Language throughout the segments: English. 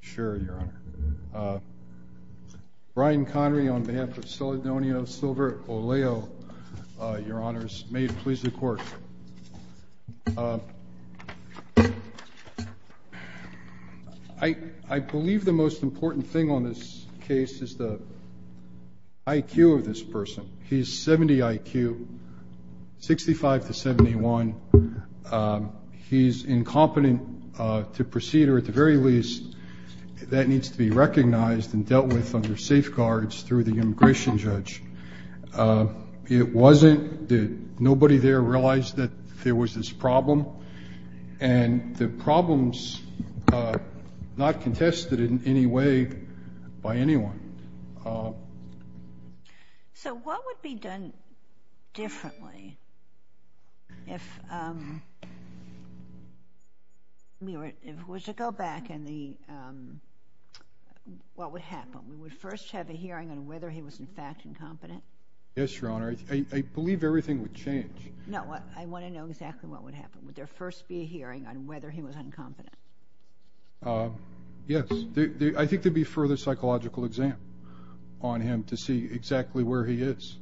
Sure, your honor. Brian Connery on behalf of Celedonio Silva-Olayo, your honors. May it please the court. I believe the most important thing on this case is the IQ of this person. He's 70 IQ, 65 to 71. And he's incompetent to proceed, or at the very least, that needs to be recognized and dealt with under safeguards through the immigration judge. It wasn't that nobody there realized that there was this problem. And the problem's not contested in any way by anyone. So what would be done differently if we were to go back and what would happen? We would first have a hearing on whether he was, in fact, incompetent? Yes, your honor. I believe everything would change. No, I want to know exactly what would happen. Would there first be a hearing on whether he was incompetent? Yes. I think there'd be further psychological exam on him to see exactly where he is.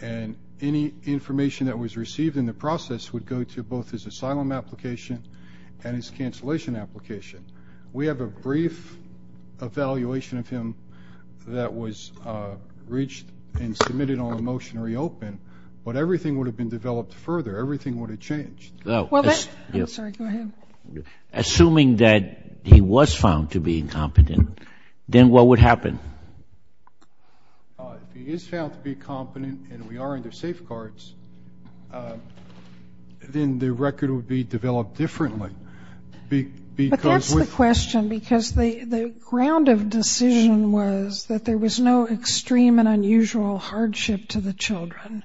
And any information that was received in the process would go to both his asylum application and his cancellation application. We have a brief evaluation of him that was reached and submitted on a motion to reopen. But everything would have been developed further. Everything would have changed. Well, that's, I'm sorry, go ahead. Assuming that he was found to be incompetent, then what would happen? If he is found to be incompetent and we are under safeguards, then the record would be developed differently. But that's the question, because the ground of decision was that there was no extreme and unusual hardship to the children.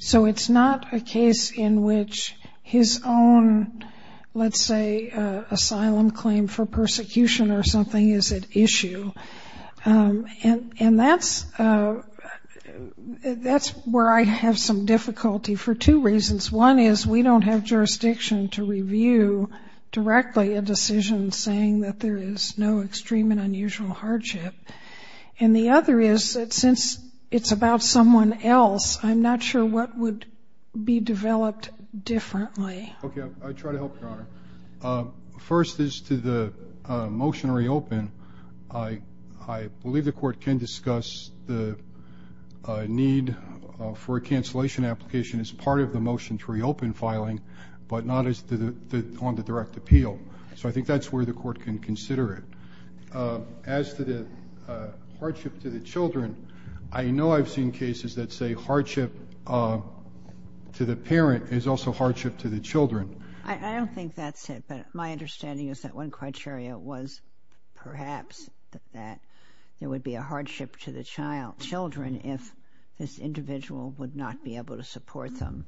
So it's not a case in which his own, let's say, asylum claim for persecution or something is at issue. And that's where I have some difficulty for two reasons. One is we don't have jurisdiction to review directly a decision saying that there is no extreme and unusual hardship. And the other is that since it's about someone else, I'm not sure what would be developed differently. OK, I'll try to help, Your Honor. First is to the motion to reopen, I believe the court can discuss the need for a cancellation application as part of the motion to reopen filing, but not on the direct appeal. So I think that's where the court can consider it. As to the hardship to the children, I know I've seen cases that say hardship to the parent is also hardship to the children. I don't think that's it, but my understanding is that one criteria was perhaps that there would be a hardship to the children if this individual would not be able to support them.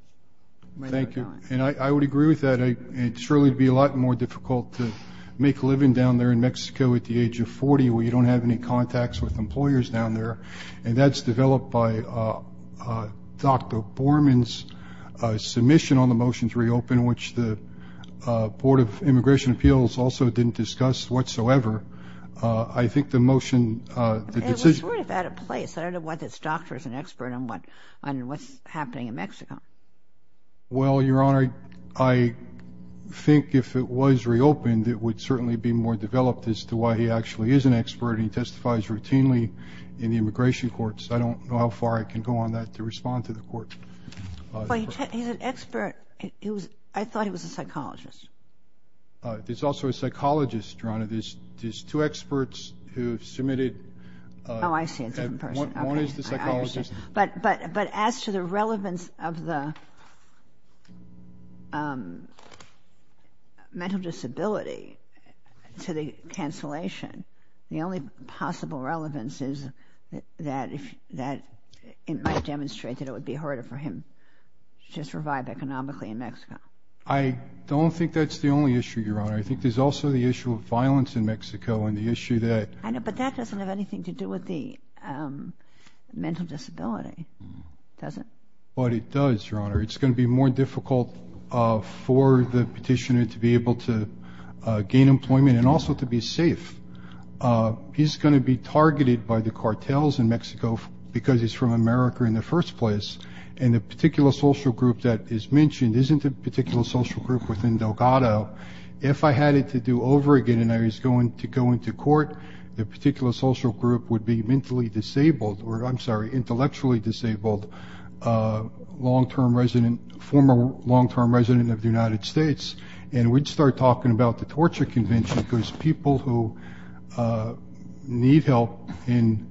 Thank you. And I would agree with that. It surely would be a lot more difficult to make a living down there in Mexico at the age of 40, where you don't have any contacts with employers down there. And that's developed by Dr. Borman's submission on the motion to reopen, which the Board of Immigration Appeals also didn't discuss whatsoever. I think the motion, the decision- It was sort of out of place. I don't know whether this doctor is an expert on what's happening in Mexico. Well, Your Honor, I think if it was reopened, it would certainly be more developed as to why he actually is an expert. He testifies routinely in the immigration courts. I don't know how far I can go on that to respond to the court. Well, he's an expert. I thought he was a psychologist. He's also a psychologist, Your Honor. There's two experts who have submitted- Oh, I see, it's a different person. One is the psychologist. But as to the relevance of the mental disability to the cancellation, the only possible relevance is that it might demonstrate that it would be harder for him to just revive economically in Mexico. I don't think that's the only issue, Your Honor. I think there's also the issue of violence in Mexico and the issue that- I know, but that doesn't have anything to do with the mental disability, does it? But it does, Your Honor. It's going to be more difficult for the petitioner to be able to gain employment and also to be safe. He's going to be targeted by the cartels in Mexico because he's from America in the first place. And the particular social group that is mentioned isn't a particular social group within Delgado. If I had it to do over again and I was going to go into court, the particular social group would be intellectually disabled, former long-term resident of the United States. And we'd start talking about the torture convention because people who need help in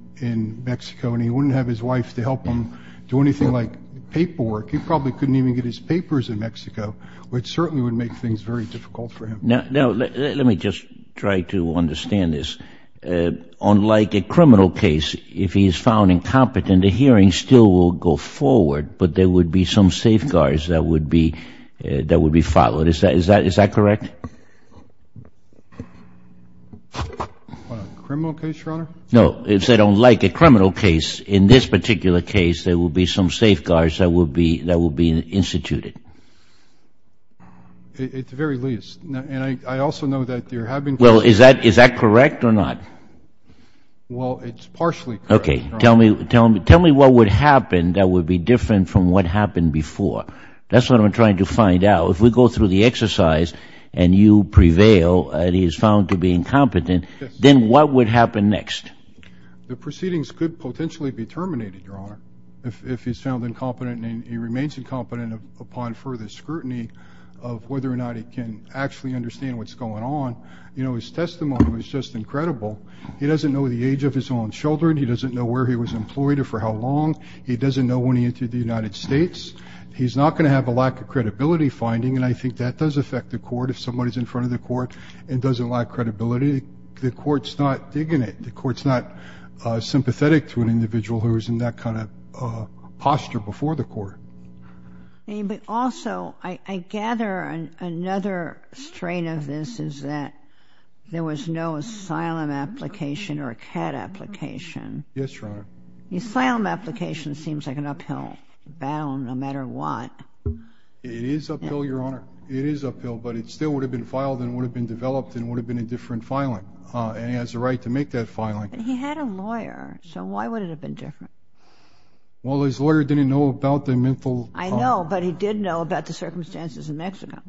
Mexico, and he wouldn't have his wife to help him do anything like paperwork. He probably couldn't even get his papers in Mexico, which certainly would make things very difficult for him. Let me just try to understand this. Unlike a criminal case, if he is found incompetent, the hearing still will go forward, but there would be some safeguards that would be followed. Is that correct? Criminal case, Your Honor? No, if they don't like a criminal case, in this particular case, there will be some safeguards that will be instituted. At the very least. And I also know that you're having to- Well, is that correct or not? Well, it's partially correct. OK, tell me what would happen that would be different from what happened before. That's what I'm trying to find out. If we go through the exercise and you prevail and he is found to be incompetent, then what would happen next? The proceedings could potentially be terminated, Your Honor, if he's found incompetent and he remains incompetent upon further scrutiny of whether or not he can actually understand what's going on. You know, his testimony was just incredible. He doesn't know the age of his own children. He doesn't know where he was employed or for how long. He doesn't know when he entered the United States. He's not going to have a lack of credibility finding. And I think that does affect the court. If somebody is in front of the court and doesn't lack credibility, the court's not digging it. The court's not sympathetic to an individual who is in that kind of posture before the court. But also, I gather another strain of this is that there was no asylum application or a CAT application. Yes, Your Honor. The asylum application seems like an uphill battle no matter what. It is uphill, Your Honor. It is uphill, but it still would have been filed and would have been developed and would have been a different filing. And he has the right to make that filing. He had a lawyer, so why would it have been different? Well, his lawyer didn't know about the mental health. I know, but he did know about the circumstances in Mexico.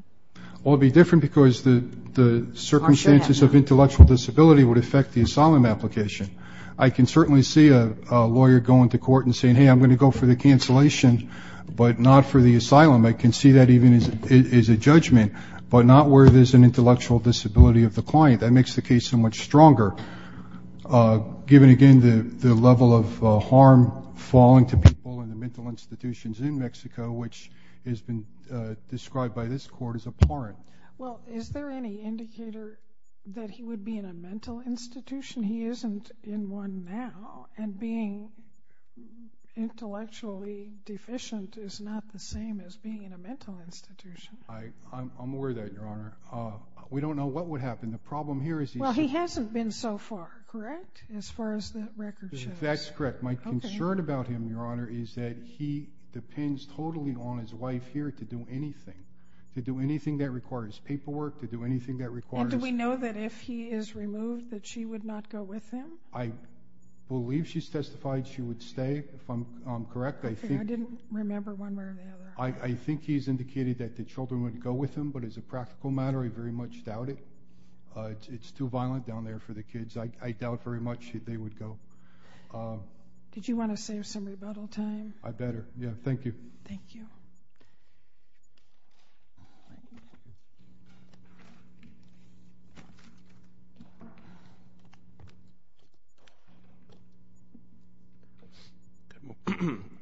Well, it would be different because the circumstances of intellectual disability would affect the asylum application. I can certainly see a lawyer going to court and saying, hey, I'm going to go for the cancellation, but not for the asylum. I can see that even as a judgment, but not where there's an intellectual disability of the client. That makes the case so much stronger, given, again, the level of harm falling to people in the mental institutions in Mexico, which has been described by this court as abhorrent. Well, is there any indicator that he would be in a mental institution? He isn't in one now, and being intellectually deficient is not the same as being in a mental institution. I'm aware of that, Your Honor. We don't know what would happen. The problem here is he's just- Well, he hasn't been so far, correct, as far as the record shows? That's correct. My concern about him, Your Honor, is that he depends totally on his wife here to do anything, to do anything that requires paperwork, to do anything that requires- And do we know that if he is removed, that she would not go with him? I believe she's testified she would stay. If I'm correct, I think- OK, I didn't remember one way or the other. I think he's indicated that the children would go with him, but as a practical matter, I very much doubt it. It's too violent down there for the kids. I doubt very much that they would go. Did you want to save some rebuttal time? I better, yeah. Thank you. Thank you.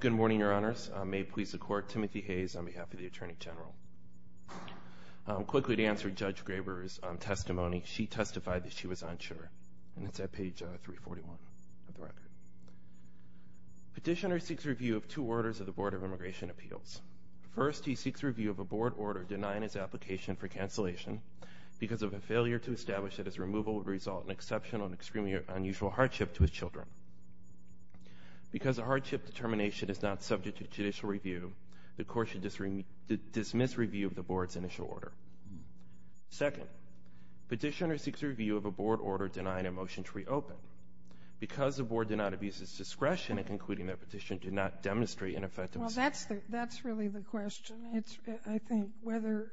Good morning, Your Honors. May it please the Court, Timothy Hayes on behalf of the Attorney General. Quickly to answer Judge Graber's testimony, she testified that she was unsure, and it's at page 341 of the record. Petitioner seeks review of two orders of the Board of Immigration Appeals. First, he seeks review of a board order denying of a misdemeanor. Second, he seeks review of a board order of exceptional and extremely unusual hardship to his children. Because a hardship determination is not subject to judicial review, the Court should dismiss review of the Board's initial order. Second, petitioner seeks review of a board order denying a motion to reopen. Because the Board did not abuse its discretion in concluding that petition did not demonstrate an effective- Well, that's really the question. I think whether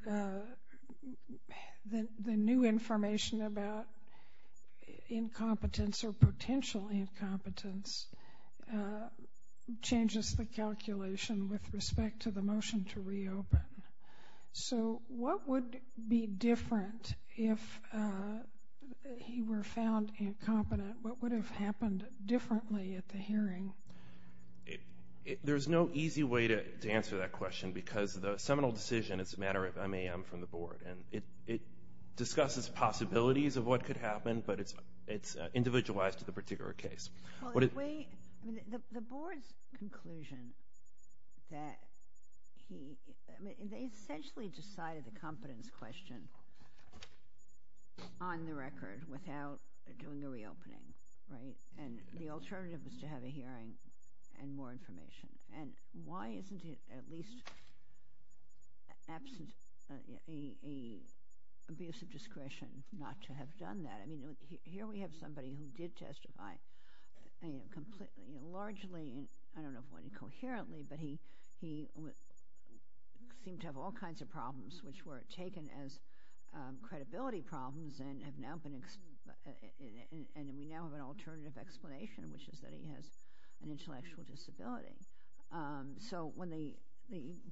the new information about incompetence or potential incompetence changes the calculation with respect to the motion to reopen. So what would be different if he were found incompetent? What would have happened differently at the hearing? There's no easy way to answer that question, because the seminal decision is a matter of MAM from the Board. And it discusses possibilities of what could happen, but it's individualized to the particular case. The Board's conclusion that he essentially decided the competence question on the record without doing the reopening. And the alternative is to have a hearing and more information. And why isn't it at least an abuse of discretion not to have done that? I mean, here we have somebody who did testify largely, I don't know if quite coherently, but he seemed to have all kinds of problems which were taken as credibility problems and we now have an alternative explanation, which is that he has an intellectual disability. So when the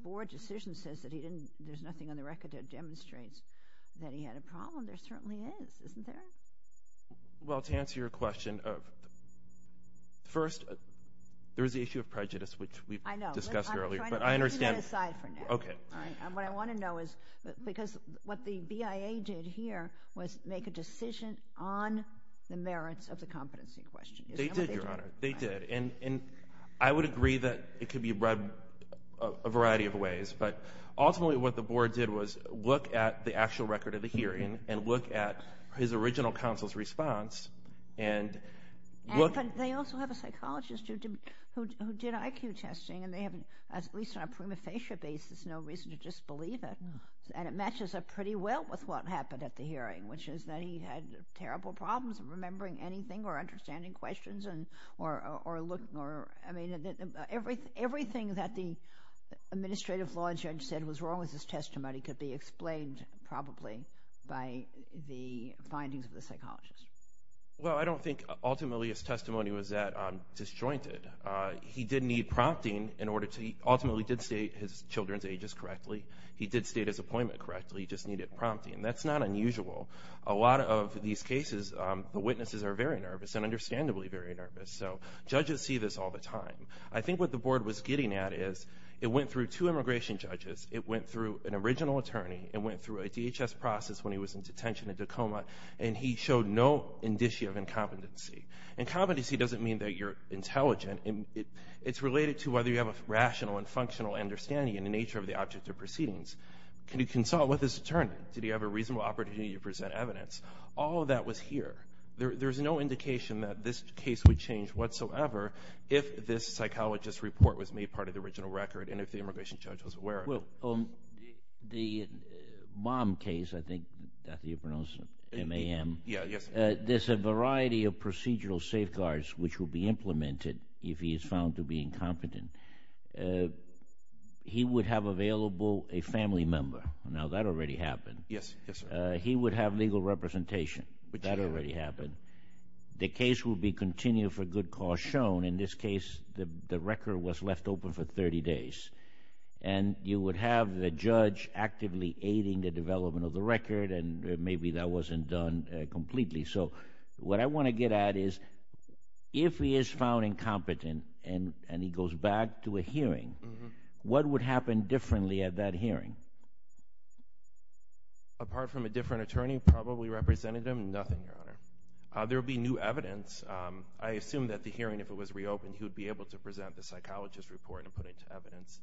Board decision says that there's nothing on the record that demonstrates that he had a problem, there certainly is, isn't there? Well, to answer your question, first, there is the issue of prejudice, which we discussed earlier. But I understand. Leave that aside for now. What I want to know is, because what the BIA did here was make a decision on the merits of the competency question. They did, Your Honor. They did. And I would agree that it could be read a variety of ways. But ultimately, what the Board did was look at the actual record of the hearing and look at his original counsel's response and look at They also have a psychologist who did IQ testing and they have, at least on a prima facie basis, no reason to disbelieve it. And it matches up pretty well with what happened at the hearing, which is that he had terrible problems remembering anything or understanding questions or everything that the administrative law judge said was wrong with his testimony could be explained, probably, by the findings of the psychologist. Well, I don't think, ultimately, his testimony was that disjointed. He did need prompting in order to, ultimately, did state his children's ages correctly. He did state his appointment correctly. He just needed prompting. That's not unusual. A lot of these cases, the witnesses are very nervous and understandably very nervous. So judges see this all the time. I think what the Board was getting at is, it went through two immigration judges. It went through an original attorney. It went through a DHS process when he was in detention in Tacoma. And he showed no indicia of incompetency. Incompetency doesn't mean that you're intelligent. It's related to whether you have a rational and functional understanding in the nature of the object of proceedings. Can you consult with this attorney? Did he have a reasonable opportunity to present evidence? All of that was here. There's no indication that this case would change whatsoever if this psychologist's report was made part of the original record and if the immigration judge was aware of it. The mom case, I think that's how you pronounce it, M-A-M. Yeah, yes. There's a variety of procedural safeguards which will be implemented if he is found to be incompetent. He would have available a family member. Now, that already happened. Yes, yes, sir. He would have legal representation. That already happened. The case will be continued for good cause shown. In this case, the record was left open for 30 days. And you would have the judge actively aiding the development of the record. And maybe that wasn't done completely. So what I want to get at is if he is found incompetent and he goes back to a hearing, what would happen differently at that hearing? Apart from a different attorney probably representative, nothing, Your Honor. There would be new evidence. I assume that the hearing, if it was reopened, he would be able to present the psychologist's report and put it to evidence.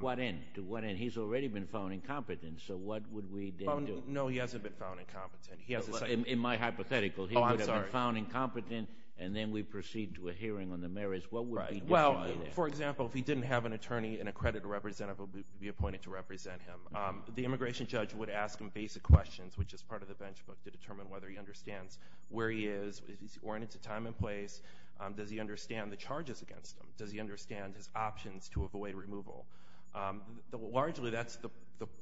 What end? To what end? He's already been found incompetent. So what would we then do? No, he hasn't been found incompetent. He has a second. In my hypothetical, he would have been found incompetent and then we proceed to a hearing on the merits. What would be different there? For example, if he didn't have an attorney and a credit representative would be appointed to represent him, the immigration judge would ask him basic questions, which is part of the benchmark to determine whether he understands where he is. Is he oriented to time and place? Does he understand the charges against him? Does he understand his options to avoid removal? Largely, that's the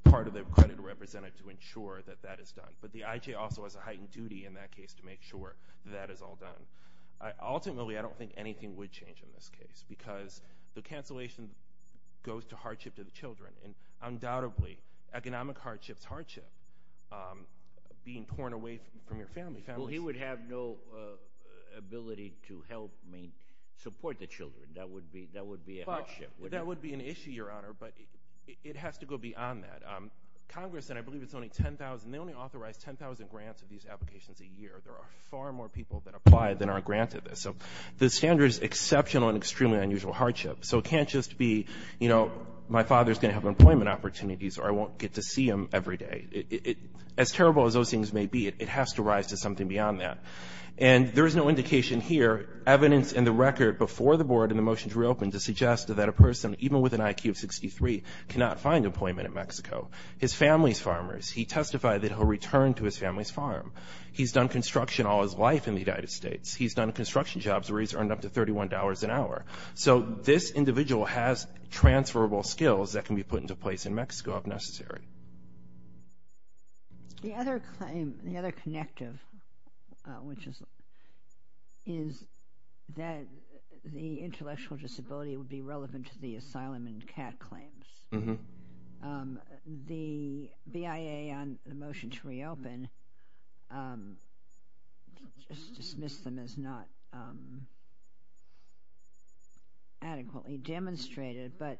part of the credit representative to ensure that that is done. But the IJ also has a heightened duty in that case to make sure that is all done. Ultimately, I don't think anything would change in this case because the cancellation goes to hardship to the children. And undoubtedly, economic hardship's hardship, being torn away from your family. He would have no ability to help support the children. That would be a hardship. That would be an issue, Your Honor, but it has to go beyond that. Congress, and I believe it's only 10,000, they only authorize 10,000 grants of these applications a year. There are far more people that apply than are granted this. So the standard is exceptional and extremely unusual hardship. So it can't just be my father's going to have employment opportunities or I won't get to see him every day. As terrible as those things may be, it has to rise to something beyond that. And there is no indication here, evidence in the record before the board and the motions reopened, to suggest that a person, even with an IQ of 63, cannot find employment in Mexico. His family's farmers, he testified that he'll return to his family's farm. He's done construction all his life in the United States. He's done construction jobs where he's earned up to $31 an hour. So this individual has transferable skills that can be put into place in Mexico if necessary. The other claim, the other connective, which is that the intellectual disability would be relevant to the asylum and CAT claims. The BIA on the motion to reopen dismissed them as not. Adequately demonstrated, but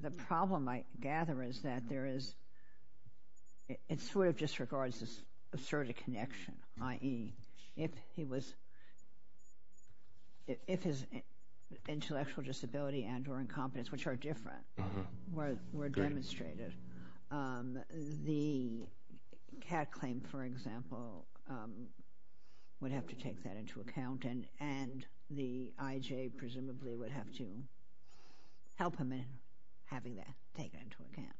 the problem I gather is that there is, it sort of disregards this asserted connection, i.e., if his intellectual disability and or incompetence, which are different, were demonstrated. The CAT claim, for example, would have to take that into account. And the IJ, presumably, would have to help him in having that taken into account.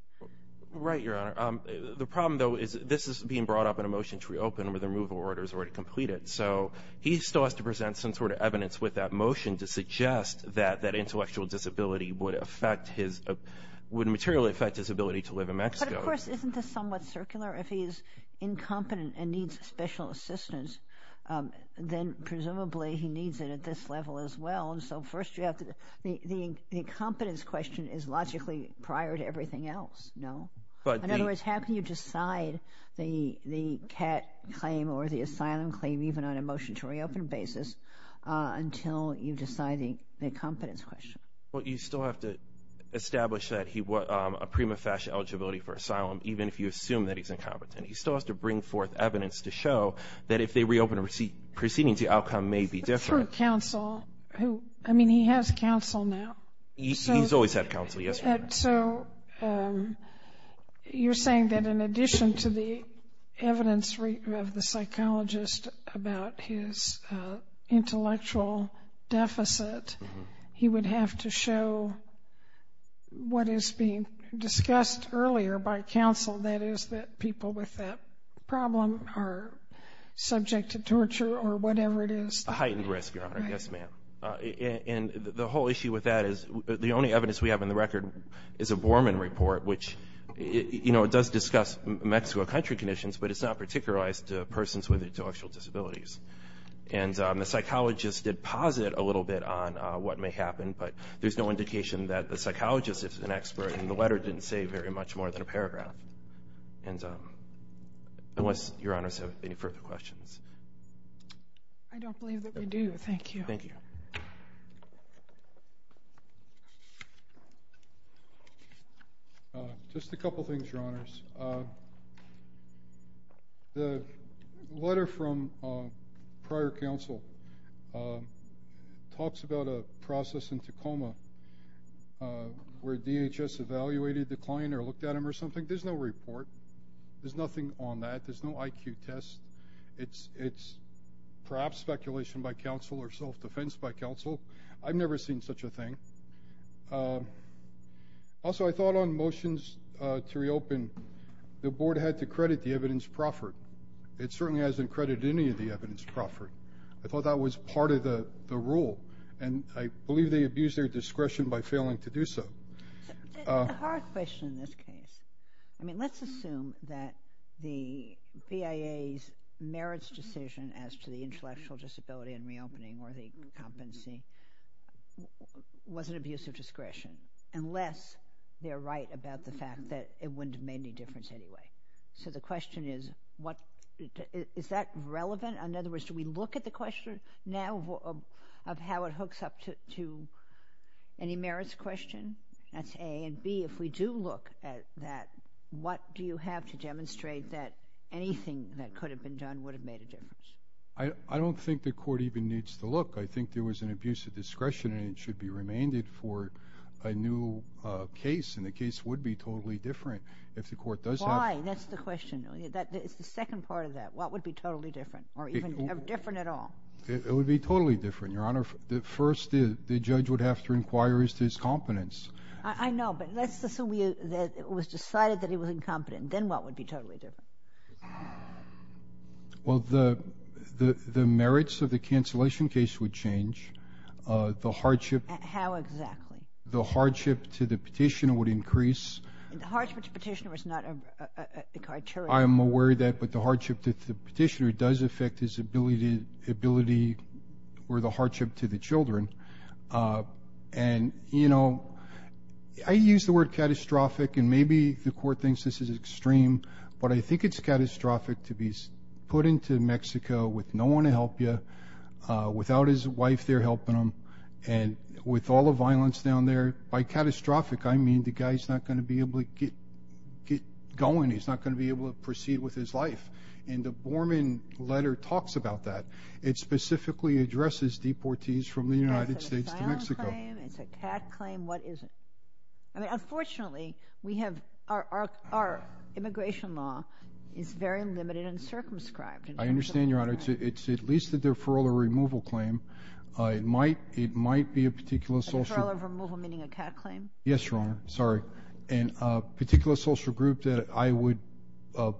Right, Your Honor. The problem, though, is this is being brought up in a motion to reopen where the removal order is already completed. So he still has to present some sort of evidence with that motion to suggest that that intellectual disability would affect his, would materially affect his ability to live in Mexico. But of course, isn't this somewhat circular? If he's incompetent and needs special assistance, then presumably he needs it at this level as well. And so first you have to, the incompetence question is logically prior to everything else, no? In other words, how can you decide the CAT claim or the asylum claim, even on a motion to reopen basis, until you decide the incompetence question? Well, you still have to establish that he was a prima facie eligibility for asylum, even if you assume that he's incompetent. He still has to bring forth evidence to show that if they reopen proceedings, the outcome may be different. Through counsel. I mean, he has counsel now. He's always had counsel, yes, Your Honor. So you're saying that in addition to the evidence of the psychologist about his intellectual deficit, he would have to show what is being discussed earlier by counsel. That is, that people with that problem are subject to torture or whatever it is. A heightened risk, Your Honor. Yes, ma'am. And the whole issue with that is the only evidence we have in the record is a Borman report, which does discuss Mexico country conditions, but it's not particularized to persons with intellectual disabilities. And the psychologist did posit a little bit on what may happen, but there's no indication that the psychologist is an expert, and the letter didn't say very much more than a paragraph. And unless Your Honors have any further questions. I don't believe that we do. Thank you. Thank you. Just a couple things, Your Honors. The letter from prior counsel talks about a process in Tacoma where DHS evaluated the client or looked at him or something. There's no report. There's nothing on that. There's no IQ test. It's perhaps speculation by counsel or self-defense by counsel. I've never seen such a thing. Also, I thought on motions to reopen, the board had to credit the evidence proffered. It certainly hasn't credited any of the evidence proffered. I thought that was part of the rule. I believe they abused their discretion by failing to do so. It's a hard question in this case. Let's assume that the BIA's merits decision as to the intellectual disability and reopening or the competency was an abuse of discretion, unless they're right about the fact that it wouldn't have made any difference anyway. So the question is, is that relevant? In other words, do we look at the question now of how it hooks up to any merits question? That's A. And B, if we do look at that, what do you have to demonstrate that anything that could have been done would have made a difference? I don't think the court even needs to look. I think there was an abuse of discretion and it should be remainded for a new case. And the case would be totally different if the court does have. Why? That's the question. It's the second part of that. What would be totally different or even different at all? It would be totally different, Your Honor. First, the judge would have to inquire as to his competence. I know, but let's assume that it was decided that he was incompetent. Then what would be totally different? Well, the merits of the cancellation case would change. The hardship. How exactly? The hardship to the petitioner would increase. The hardship to the petitioner is not a criteria. I am aware of that, but the hardship to the petitioner does affect his ability or the hardship to the children. And, you know, I use the word catastrophic and maybe the court thinks this is extreme, but I think it's catastrophic to be put into Mexico with no one to help you, without his wife there helping him, and with all the violence down there. By catastrophic, I mean the guy's not gonna be able to get going. He's not gonna be able to proceed with his life. And the Borman letter talks about that. It specifically addresses deportees from the United States to Mexico. It's a asylum claim, it's a CAT claim. What is it? I mean, unfortunately, we have, our immigration law is very limited and circumscribed. I understand, Your Honor. It's at least a deferral or removal claim. It might be a particular social... A deferral or removal, meaning a CAT claim? Yes, Your Honor, sorry. And a particular social group that I would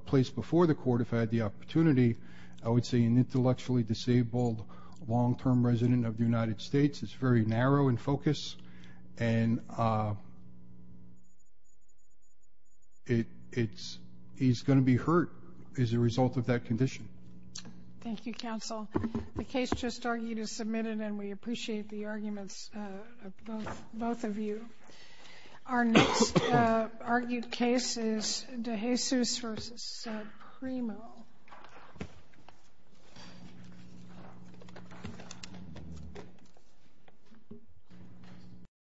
place before the court if I had the opportunity, I would say an intellectually disabled, long-term resident of the United States. It's very narrow in focus. And it's, he's gonna be hurt as a result of that condition. Thank you, counsel. The case just argued is submitted and we appreciate the arguments of both of you. Our next argued case is de Jesus versus Primo.